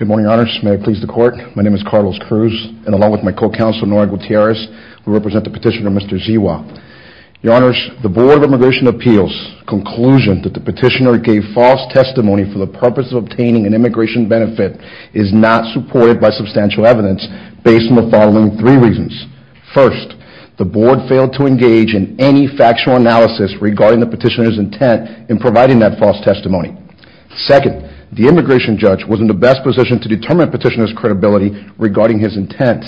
Good morning, Your Honors. May I please the Court? My name is Carlos Cruz, and along with my co-counsel, Nora Gutierrez, we represent the petitioner, Mr. Siua. Your Honors, the Board of Immigration Appeals' conclusion that the petitioner gave false testimony for the purpose of obtaining an immigration benefit is not supported by substantial evidence based on the following three reasons. First, the Board failed to engage in any factual analysis regarding the petitioner's intent in providing that false testimony. Second, the immigration judge was in the best position to determine petitioner's credibility regarding his intent.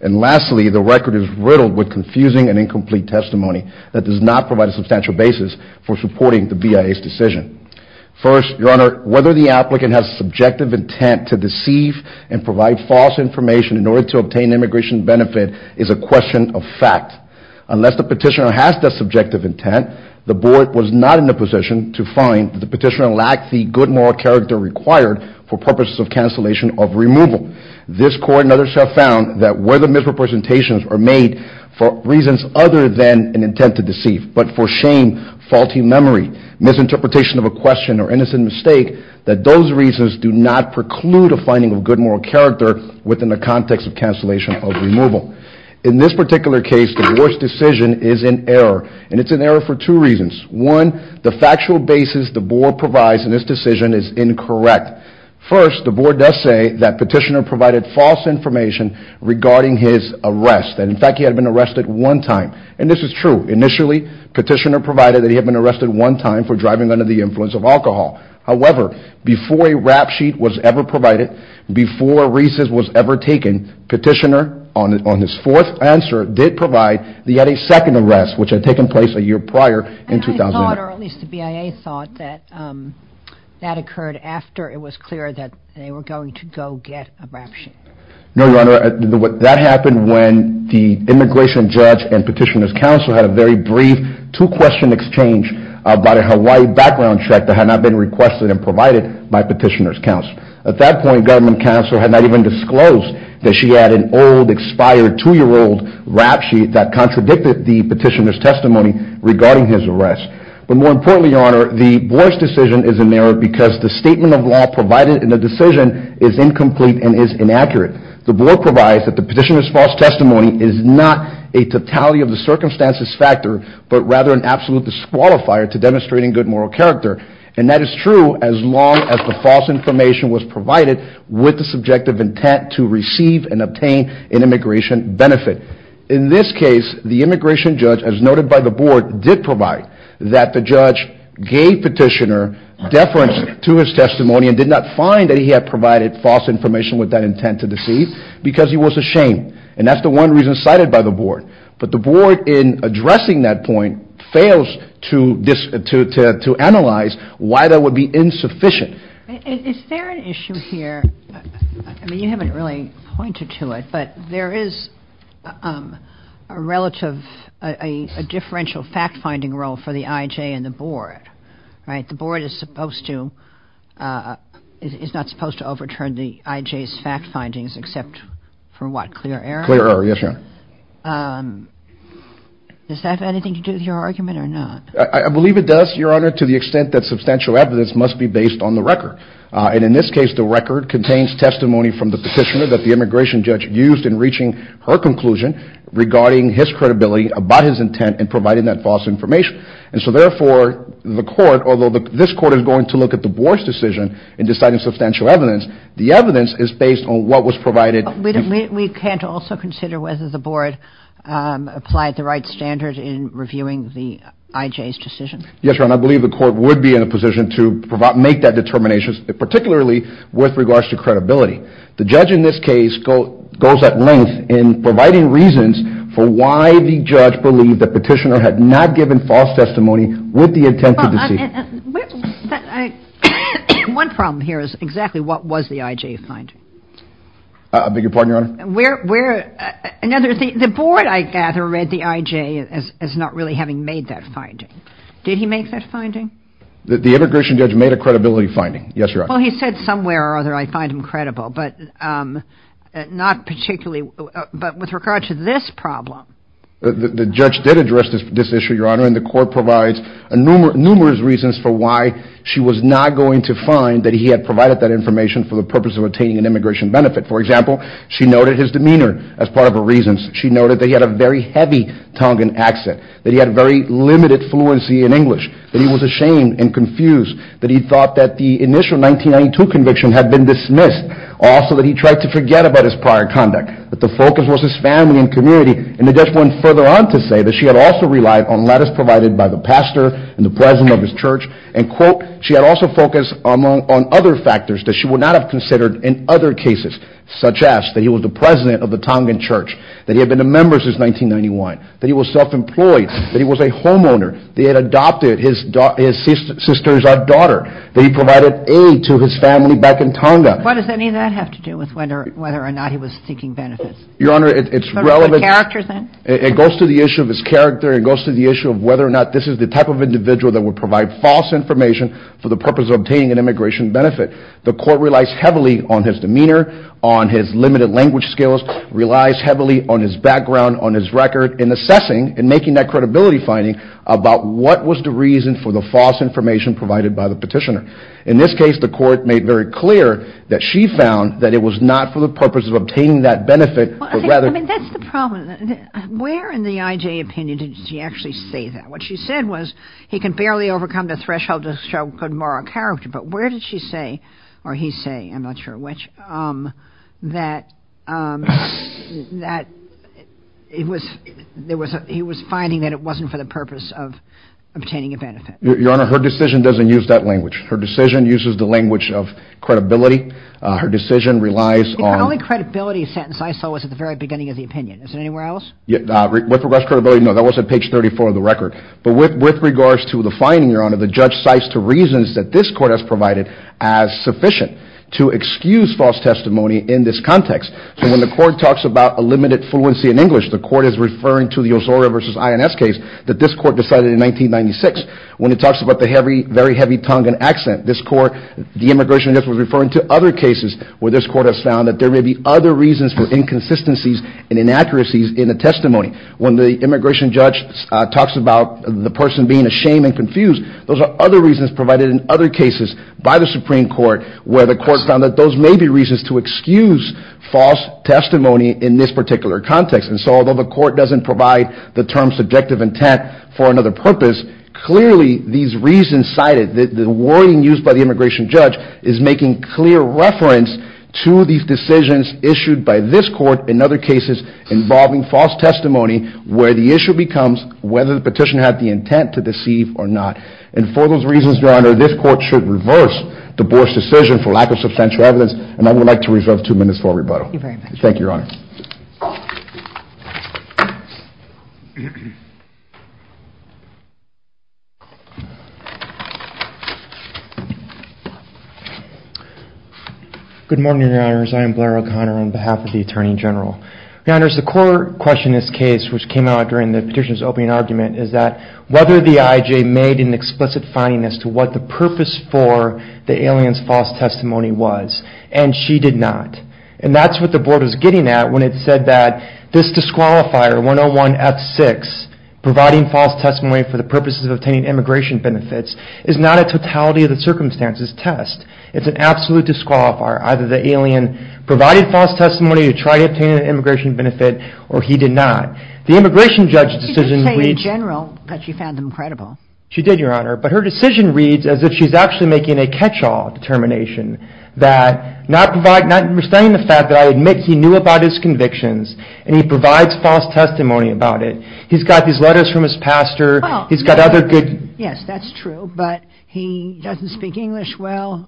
And lastly, the record is riddled with confusing and incomplete testimony that does not provide a substantial basis for supporting the BIA's decision. First, Your Honor, whether the applicant has subjective intent to deceive and provide false information in order to obtain immigration benefit is a question of fact. Unless the petitioner has that subjective intent, the for purposes of cancellation of removal. This Court and others have found that whether misrepresentations are made for reasons other than an intent to deceive, but for shame, faulty memory, misinterpretation of a question, or innocent mistake, that those reasons do not preclude a finding of good moral character within the context of cancellation of removal. In this particular case, the Board's decision is in error, and it's in error for two reasons. One, the factual basis the Board provides in this decision is incorrect. First, the Board does say that petitioner provided false information regarding his arrest, and in fact he had been arrested one time. And this is true. Initially, petitioner provided that he had been arrested one time for driving under the influence of alcohol. However, before a rap sheet was ever provided, before a recess was ever taken, petitioner, on his fourth answer, did provide that he had a second arrest, which had taken place a year prior in 2009. And I thought, or at least the BIA thought, that that occurred after it was clear that they were going to go get a rap sheet. No, Your Honor. That happened when the immigration judge and petitioner's counsel had a very brief two-question exchange about a Hawaii background check that had not been requested and provided by petitioner's counsel. At that point, government counsel had not even disclosed that she had an old, expired two-year-old rap sheet that contradicted the petitioner's testimony regarding his arrest. But more importantly, Your Honor, the Board's decision is in error because the statement of law provided in the decision is incomplete and is inaccurate. The Board provides that the petitioner's false testimony is not a totality of the circumstances factor, but rather an absolute disqualifier to demonstrating good moral character. And that is true as long as the false information was provided with the subjective intent to receive and obtain an immigration benefit. In this case, the immigration judge, as noted by the Board, did provide that the judge gave petitioner deference to his testimony and did not find that he had provided false information with that intent to deceive because he was ashamed. And that's the one reason cited by the Board. But the Board, in addressing that point, fails to analyze why that would be insufficient. Is there an issue here? I mean, you haven't really pointed to it, but there is a relative, a differential fact-finding role for the I.J. and the Board, right? The Board is supposed to, is not supposed to overturn the I.J.'s fact-findings except for what? Clear error? Yes, Your Honor. Does that have anything to do with your argument or not? I believe it does, Your Honor, to the extent that substantial evidence must be based on the record. And in this case, the record contains testimony from the petitioner that the immigration judge used in reaching her conclusion regarding his credibility about his intent in providing that false information. And so therefore, the Court, although this Court is going to look at the Board's decision in deciding substantial evidence, the evidence is based on what was provided. We can't also consider whether the Board applied the right standard in reviewing the I.J.'s decision? Yes, Your Honor. I believe the Court would be in a position to make that determination, particularly with regards to credibility. The judge in this case goes at length in providing reasons for why the judge believed the petitioner had not given false testimony with the intent of deceit. One problem here is exactly what was the I.J. finding? I beg your pardon, Your Honor? Where, where, another thing, the Board, I gather, read the I.J. as not really having made that finding. Did he make that finding? The immigration judge made a credibility finding, yes, Your Honor. Well, he said somewhere or other, I find him credible, but not particularly, but with regards to this problem. The judge did address this issue, Your Honor, and the Court provides numerous reasons for why she was not going to find that he had provided that information for the purpose of obtaining an immigration benefit. For example, she noted his demeanor as part of her reasons. She noted that he had a very heavy tongue and accent, that he had very limited fluency in English, that he was ashamed and confused, that he thought that the initial 1992 conviction had been dismissed, also that he tried to forget about his prior conduct, that the focus was his family and community, and the judge went further on to say that she had also relied on letters provided by the pastor and the president of his church, and, quote, she had also focused on other factors that she would not have considered in other cases, such as that he was the president of the Tongan church, that he had been a member since 1991, that he was self-employed, that he was a homeowner, that he had adopted his sister as our daughter, that he provided aid to his family back in Tonga. What does any of that have to do with whether or not he was seeking benefits? Your Honor, it's relevant. What about the character, then? It goes to the issue of his character. It goes to the issue of whether or not this is the type of individual that would provide false information for the purpose of obtaining an immigration benefit. The Court relies heavily on his demeanor, on his limited language skills, relies heavily on his background, on his record, in assessing and making that credibility finding about what was the reason for the false information provided by the petitioner. In this case, the Court made very clear that she found that it was not for the purpose of obtaining that benefit, but rather... I mean, that's the problem. Where in the I.J. opinion did she actually say that? What she said was, he can barely overcome the threshold to show good moral character, but where did she say, or he say, I'm not sure which, that he was finding that it wasn't for the purpose of obtaining a benefit? Your Honor, her decision doesn't use that language. Her decision uses the language of credibility. Her decision relies on... The only credibility sentence I saw was at the very beginning of the opinion. Is it anywhere else? With regards to credibility, no, that was at page 34 of the record. But with regards to the finding, Your Honor, the judge cites two reasons that this Court has provided as sufficient to excuse false testimony in this context. So when the Court talks about a limited fluency in English, the Court is referring to the Ozora v. INS case that this Court decided in 1996. When it talks about the very heavy Tongan accent, this Court, the immigration judge was referring to other cases where this Court has found that there may be other reasons for inconsistencies and inaccuracies in the testimony. When the immigration judge talks about the person being ashamed and confused, those are other reasons provided in other cases by the Supreme Court where the Court found that those may be reasons to excuse false testimony in this particular context. And so although the Court doesn't provide the term subjective intent for another purpose, clearly these reasons cited, the wording used by the immigration judge is making clear reference to these decisions issued by this Court in other cases involving false testimony where the issue becomes whether the petitioner had the intent to deceive or not. And for those reasons, Your Honor, this Court should reverse the Borsch decision for lack of substantial evidence, and I would like to reserve two minutes for rebuttal. Thank you very much. Thank you, Your Honor. Good morning, Your Honors. I am Blair O'Connor on behalf of the Attorney General. Your Honors, the core question in this case which came out during the petitioner's opening argument is that whether the IJ made an explicit finding as to what the purpose for the alien's false testimony was, and she did not. And that's what the Board was getting at when it said that this disqualifier, 101F6, providing false testimony for the purposes of obtaining immigration benefits, is not a totality of the circumstances test. It's an absolute disqualifier. Either the alien provided false testimony to try to obtain an immigration benefit, or he did not. The immigration judge's decision... Did she just say, in general, that she found them credible? She did, Your Honor. But her decision reads as if she's actually making a catch-all determination that not providing... Notwithstanding the fact that I admit he knew about his convictions and he provides false testimony about it, he's got these letters from his pastor, he's got other good... Yes, that's true. But he doesn't speak English well,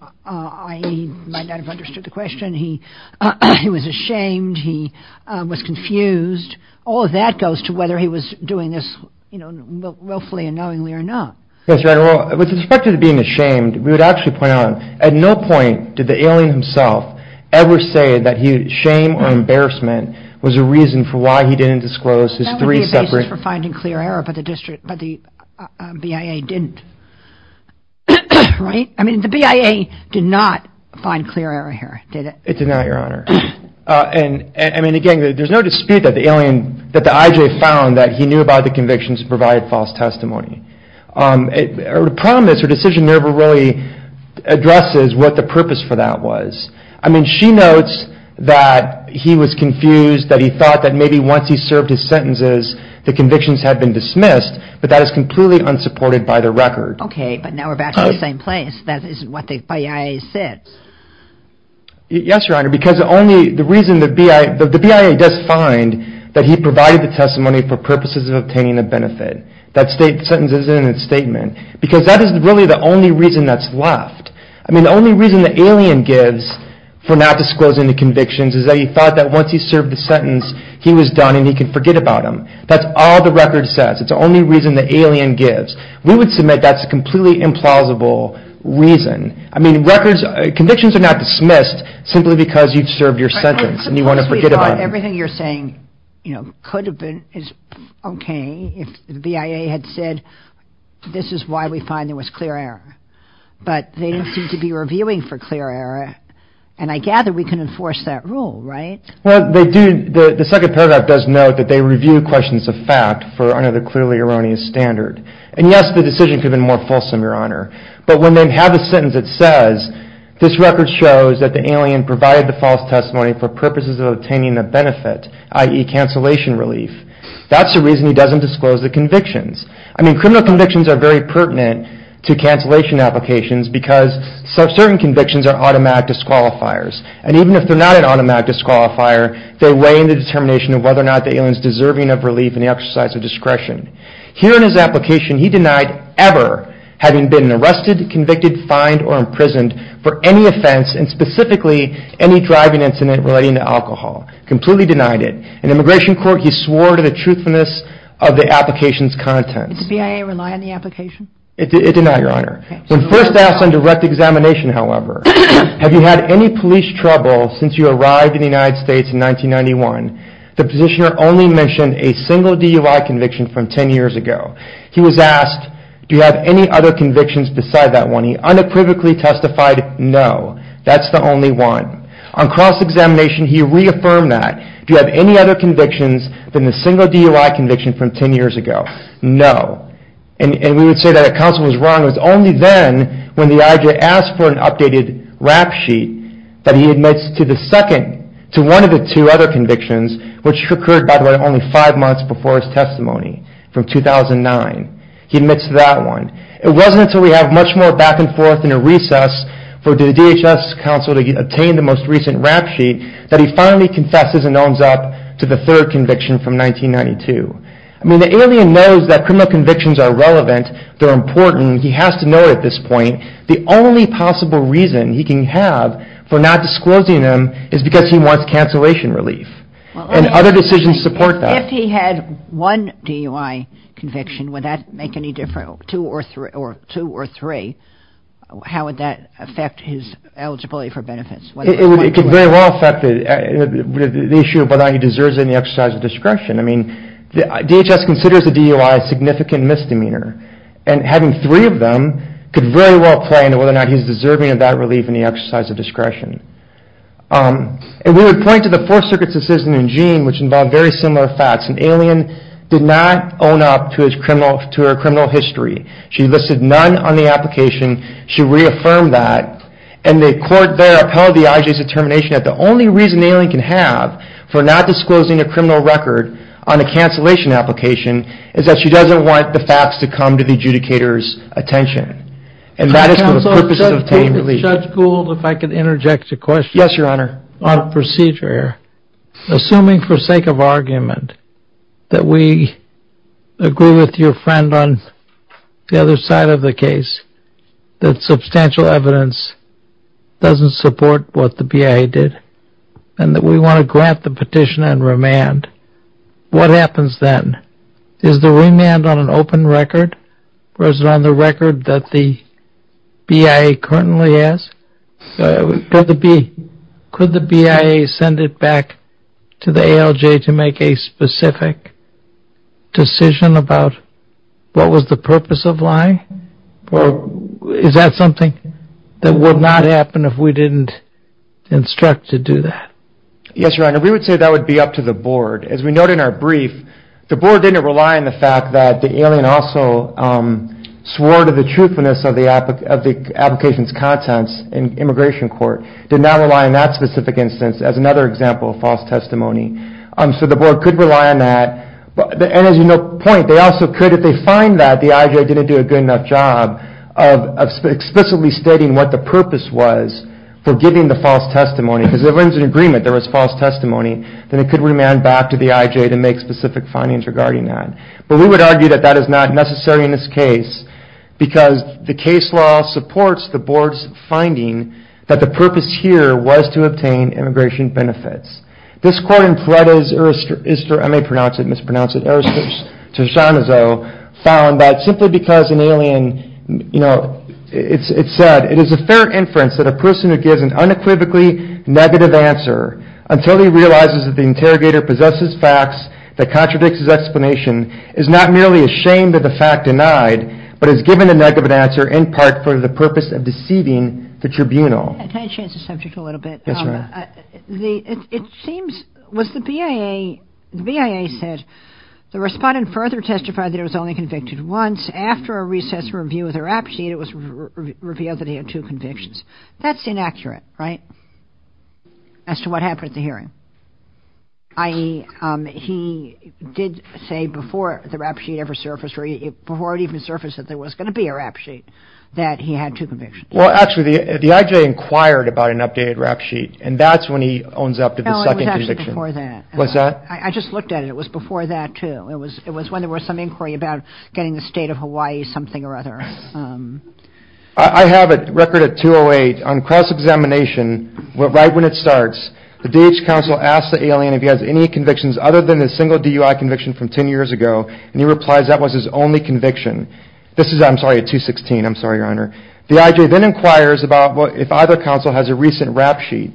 he might not have understood the question, he was ashamed, he was confused, all of that goes to whether he was doing this willfully and knowingly or not. Yes, Your Honor. With respect to being ashamed, we would actually point out, at no point did the alien himself ever say that shame or embarrassment was a reason for why he didn't disclose his three separate... No, he didn't. Right? I mean, the BIA did not find clear error here, did it? It did not, Your Honor. And, I mean, again, there's no dispute that the IJ found that he knew about the convictions and provided false testimony. Her promise, her decision never really addresses what the purpose for that was. I mean, she notes that he was confused, that he thought that maybe once he served his sentences, the convictions had been dismissed, but that is completely unsupported by the record. Okay, but now we're back to the same place, that isn't what the BIA says. Yes, Your Honor, because the only... the reason the BIA... the BIA does find that he provided the testimony for purposes of obtaining a benefit. That sentence isn't in its statement. Because that is really the only reason that's left. I mean, the only reason the alien gives for not disclosing the convictions is that he served the sentence, he was done, and he can forget about them. That's all the record says. It's the only reason the alien gives. We would submit that's a completely implausible reason. I mean, records... convictions are not dismissed simply because you've served your sentence and you want to forget about them. I suppose we thought everything you're saying, you know, could have been... is okay if the BIA had said, this is why we find there was clear error, but they didn't seem to be reviewing for clear error, and I gather we can enforce that rule, right? Well, they do... the second paragraph does note that they review questions of fact for under the clearly erroneous standard. And yes, the decision could have been more fulsome, Your Honor, but when they have a sentence that says, this record shows that the alien provided the false testimony for purposes of obtaining a benefit, i.e. cancellation relief. That's the reason he doesn't disclose the convictions. I mean, criminal convictions are very pertinent to cancellation applications because certain convictions are automatic disqualifiers. And even if they're not an automatic disqualifier, they weigh in the determination of whether or not the alien is deserving of relief and the exercise of discretion. Here in his application, he denied ever having been arrested, convicted, fined, or imprisoned for any offense and specifically any driving incident relating to alcohol. Completely denied it. In immigration court, he swore to the truthfulness of the application's content. Did the BIA rely on the application? It did not, Your Honor. Okay. Have you had any police trouble since you arrived in the United States in 1991? The positioner only mentioned a single DUI conviction from 10 years ago. He was asked, do you have any other convictions beside that one? He unapprovedly testified, no. That's the only one. On cross-examination, he reaffirmed that. Do you have any other convictions than the single DUI conviction from 10 years ago? No. And we would say that a counsel was wrong. It was only then when the IJ asked for an updated rap sheet that he admits to the second, to one of the two other convictions, which occurred, by the way, only five months before his testimony from 2009. He admits to that one. It wasn't until we have much more back and forth in a recess for the DHS counsel to attain the most recent rap sheet that he finally confesses and owns up to the third conviction from 1992. I mean, the alien knows that criminal convictions are relevant, they're important. He has to know at this point, the only possible reason he can have for not disclosing them is because he wants cancellation relief, and other decisions support that. If he had one DUI conviction, would that make any difference, two or three, how would that affect his eligibility for benefits? It could very well affect the issue of whether or not he deserves any exercise of discretion. I mean, DHS considers a DUI a significant misdemeanor, and having three of them could very well play into whether or not he's deserving of that relief and the exercise of discretion. And we would point to the Fourth Circuit's decision in Jean, which involved very similar facts. An alien did not own up to her criminal history. She listed none on the application. She reaffirmed that, and the court there upheld the IJ's determination that the only reason an alien can have for not disclosing a criminal record on a cancellation application is that she doesn't want the facts to come to the adjudicator's attention. And that is for the purpose of obtaining relief. Judge Gould, if I could interject a question. Yes, Your Honor. On a procedure, assuming for sake of argument, that we agree with your friend on the other side of the case, that substantial evidence doesn't support what the BIA did, and that we want to grant the petition and remand, what happens then? Is the remand on an open record, or is it on the record that the BIA currently has? Could the BIA send it back to the ALJ to make a specific decision about what was the purpose of lying? Or is that something that would not happen if we didn't instruct to do that? Yes, Your Honor. We would say that would be up to the board. As we note in our brief, the board didn't rely on the fact that the alien also swore to the truthfulness of the application's contents in immigration court, did not rely on that specific instance as another example of false testimony. So the board could rely on that, and as you note, point, they also could, if they find that the IJ didn't do a good enough job of explicitly stating what the purpose was for giving the false testimony, because if there was an agreement, there was false testimony, then it could remand back to the IJ to make specific findings regarding that. But we would argue that that is not necessary in this case, because the case law supports the board's finding that the purpose here was to obtain immigration benefits. This quote in Toretto's Erister, I may pronounce it, mispronounce it, Erister's Toscanozo found that simply because an alien, you know, it said, it is a fair inference that a person who gives an unequivocally negative answer until he realizes that the interrogator possesses facts that contradicts his explanation is not merely ashamed of the fact denied, but is given a negative answer in part for the purpose of deceiving the tribunal. Yes, Your Honor. It seems, was the BIA, the BIA said, the respondent further testified that he was only convicted once, after a recess review of the rap sheet, it was revealed that he had two convictions. That's inaccurate, right, as to what happened at the hearing, i.e., he did say before the rap sheet ever surfaced, or before it even surfaced that there was going to be a rap sheet, that he had two convictions. Well, actually, the IJ inquired about an updated rap sheet, and that's when he owns up to the second conviction. No, it was actually before that. What's that? I just looked at it. It was before that, too. It was when there was some inquiry about getting the state of Hawaii something or other. I have a record at 208, on cross-examination, right when it starts, the DH counsel asks the alien if he has any convictions other than the single DUI conviction from 10 years ago, and he replies that was his only conviction. This is, I'm sorry, at 216, I'm sorry, Your Honor. The IJ then inquires about if either counsel has a recent rap sheet,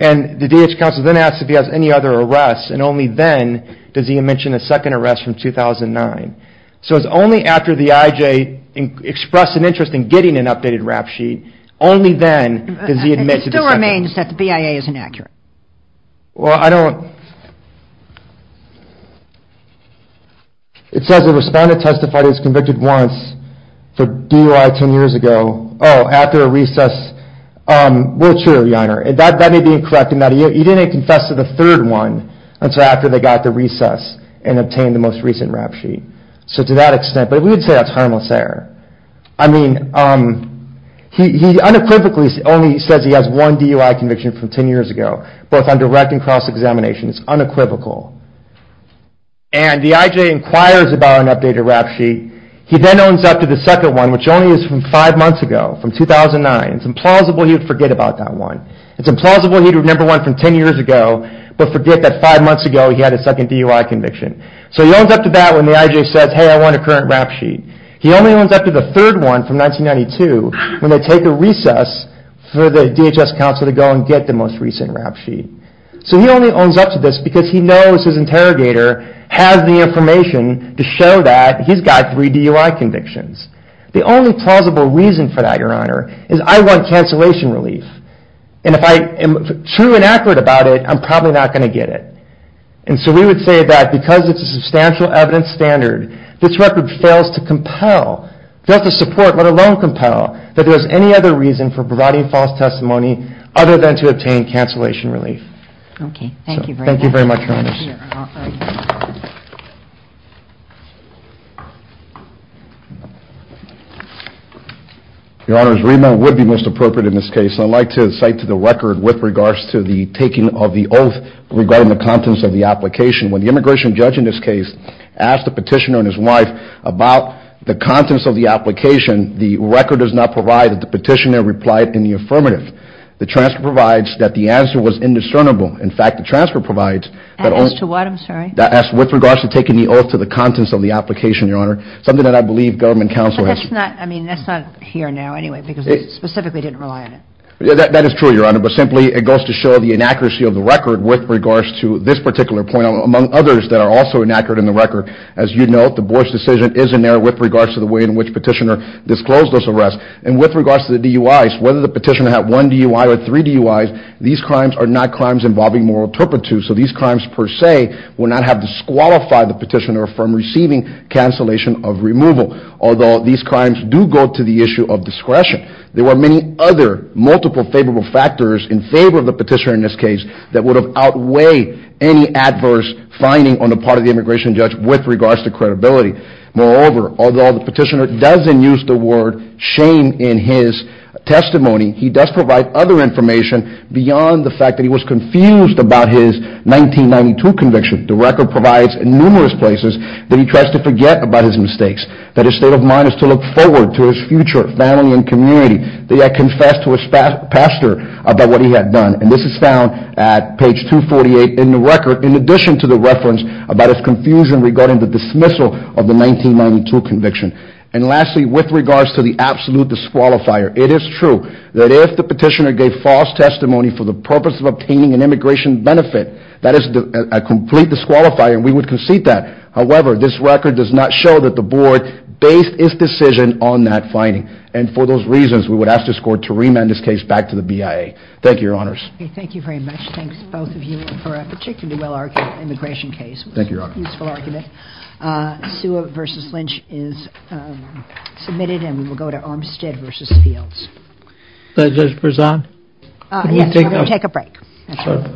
and the DH counsel then asks if he has any other arrests, and only then does he mention a second arrest from 2009. So, it's only after the IJ expressed an interest in getting an updated rap sheet, only then does he admit to the second. It still remains that the BIA is inaccurate. Well, I don't, it says the respondent testified he was convicted once for DUI 10 years ago, oh, after a recess, well, true, Your Honor, that may be incorrect in that he didn't confess to the third one until after they got the recess and obtained the most recent rap sheet. So to that extent, but we would say that's harmless error. I mean, he unequivocally only says he has one DUI conviction from 10 years ago, both on direct and cross-examination, it's unequivocal. And the IJ inquires about an updated rap sheet, he then owns up to the second one, which only is from five months ago, from 2009, it's implausible he would forget about that one. It's implausible he would remember one from 10 years ago, but forget that five months ago he had a second DUI conviction. So he owns up to that when the IJ says, hey, I want a current rap sheet. He only owns up to the third one from 1992 when they take a recess for the DHS counsel to go and get the most recent rap sheet. So he only owns up to this because he knows his interrogator has the information to show that he's got three DUI convictions. The only plausible reason for that, Your Honor, is I want cancellation relief. And if I am true and accurate about it, I'm probably not going to get it. And so we would say that because it's a substantial evidence standard, this record fails to compel, fails to support, let alone compel, that there is any other reason for providing false testimony other than to obtain cancellation relief. Okay. Thank you very much. Thank you very much, Your Honors. Your Honors, remand would be most appropriate in this case. I'd like to cite to the record with regards to the taking of the oath regarding the contents of the application. When the immigration judge in this case asked the petitioner and his wife about the contents of the application, the record does not provide that the petitioner replied in the affirmative. The transfer provides that the answer was indiscernible. In fact, the transfer provides that only... As to what? I'm sorry. As with regards to taking the oath to the contents of the application, Your Honor, something that I believe government counsel... But that's not, I mean, that's not here now anyway because they specifically didn't rely on it. That is true, Your Honor. But simply it goes to show the inaccuracy of the record with regards to this particular point among others that are also inaccurate in the record. As you know, the board's decision is in error with regards to the way in which petitioner disclosed this arrest. And with regards to the DUIs, whether the petitioner had one DUI or three DUIs, these crimes are not crimes involving moral turpitude. So these crimes per se will not have disqualified the petitioner from receiving cancellation of removal. Although, these crimes do go to the issue of discretion. There were many other multiple favorable factors in favor of the petitioner in this case that would've outweighed any adverse finding on the part of the immigration judge with regards to credibility. Moreover, although the petitioner doesn't use the word shame in his testimony, he does provide other information beyond the fact that he was confused about his 1992 conviction. The record provides numerous places that he tries to forget about his mistakes, that his state of mind is to look forward to his future family and community, that he had confessed to his pastor about what he had done. And this is found at page 248 in the record, in addition to the reference about his confusion regarding the dismissal of the 1992 conviction. And lastly, with regards to the absolute disqualifier, it is true that if the petitioner gave false testimony for the purpose of obtaining an immigration benefit, that is a complete disqualifier and we would concede that. However, this record does not show that the board based its decision on that finding. And for those reasons, we would ask this court to remand this case back to the BIA. Thank you, your honors. Okay, thank you very much. Thanks, both of you, for a particularly well argued immigration case. Thank you, your honor. It was a useful argument. Sua v. Lynch is submitted and we will go to Armstead v. Fields. Judge Prezan? Yes, we're going to take a break.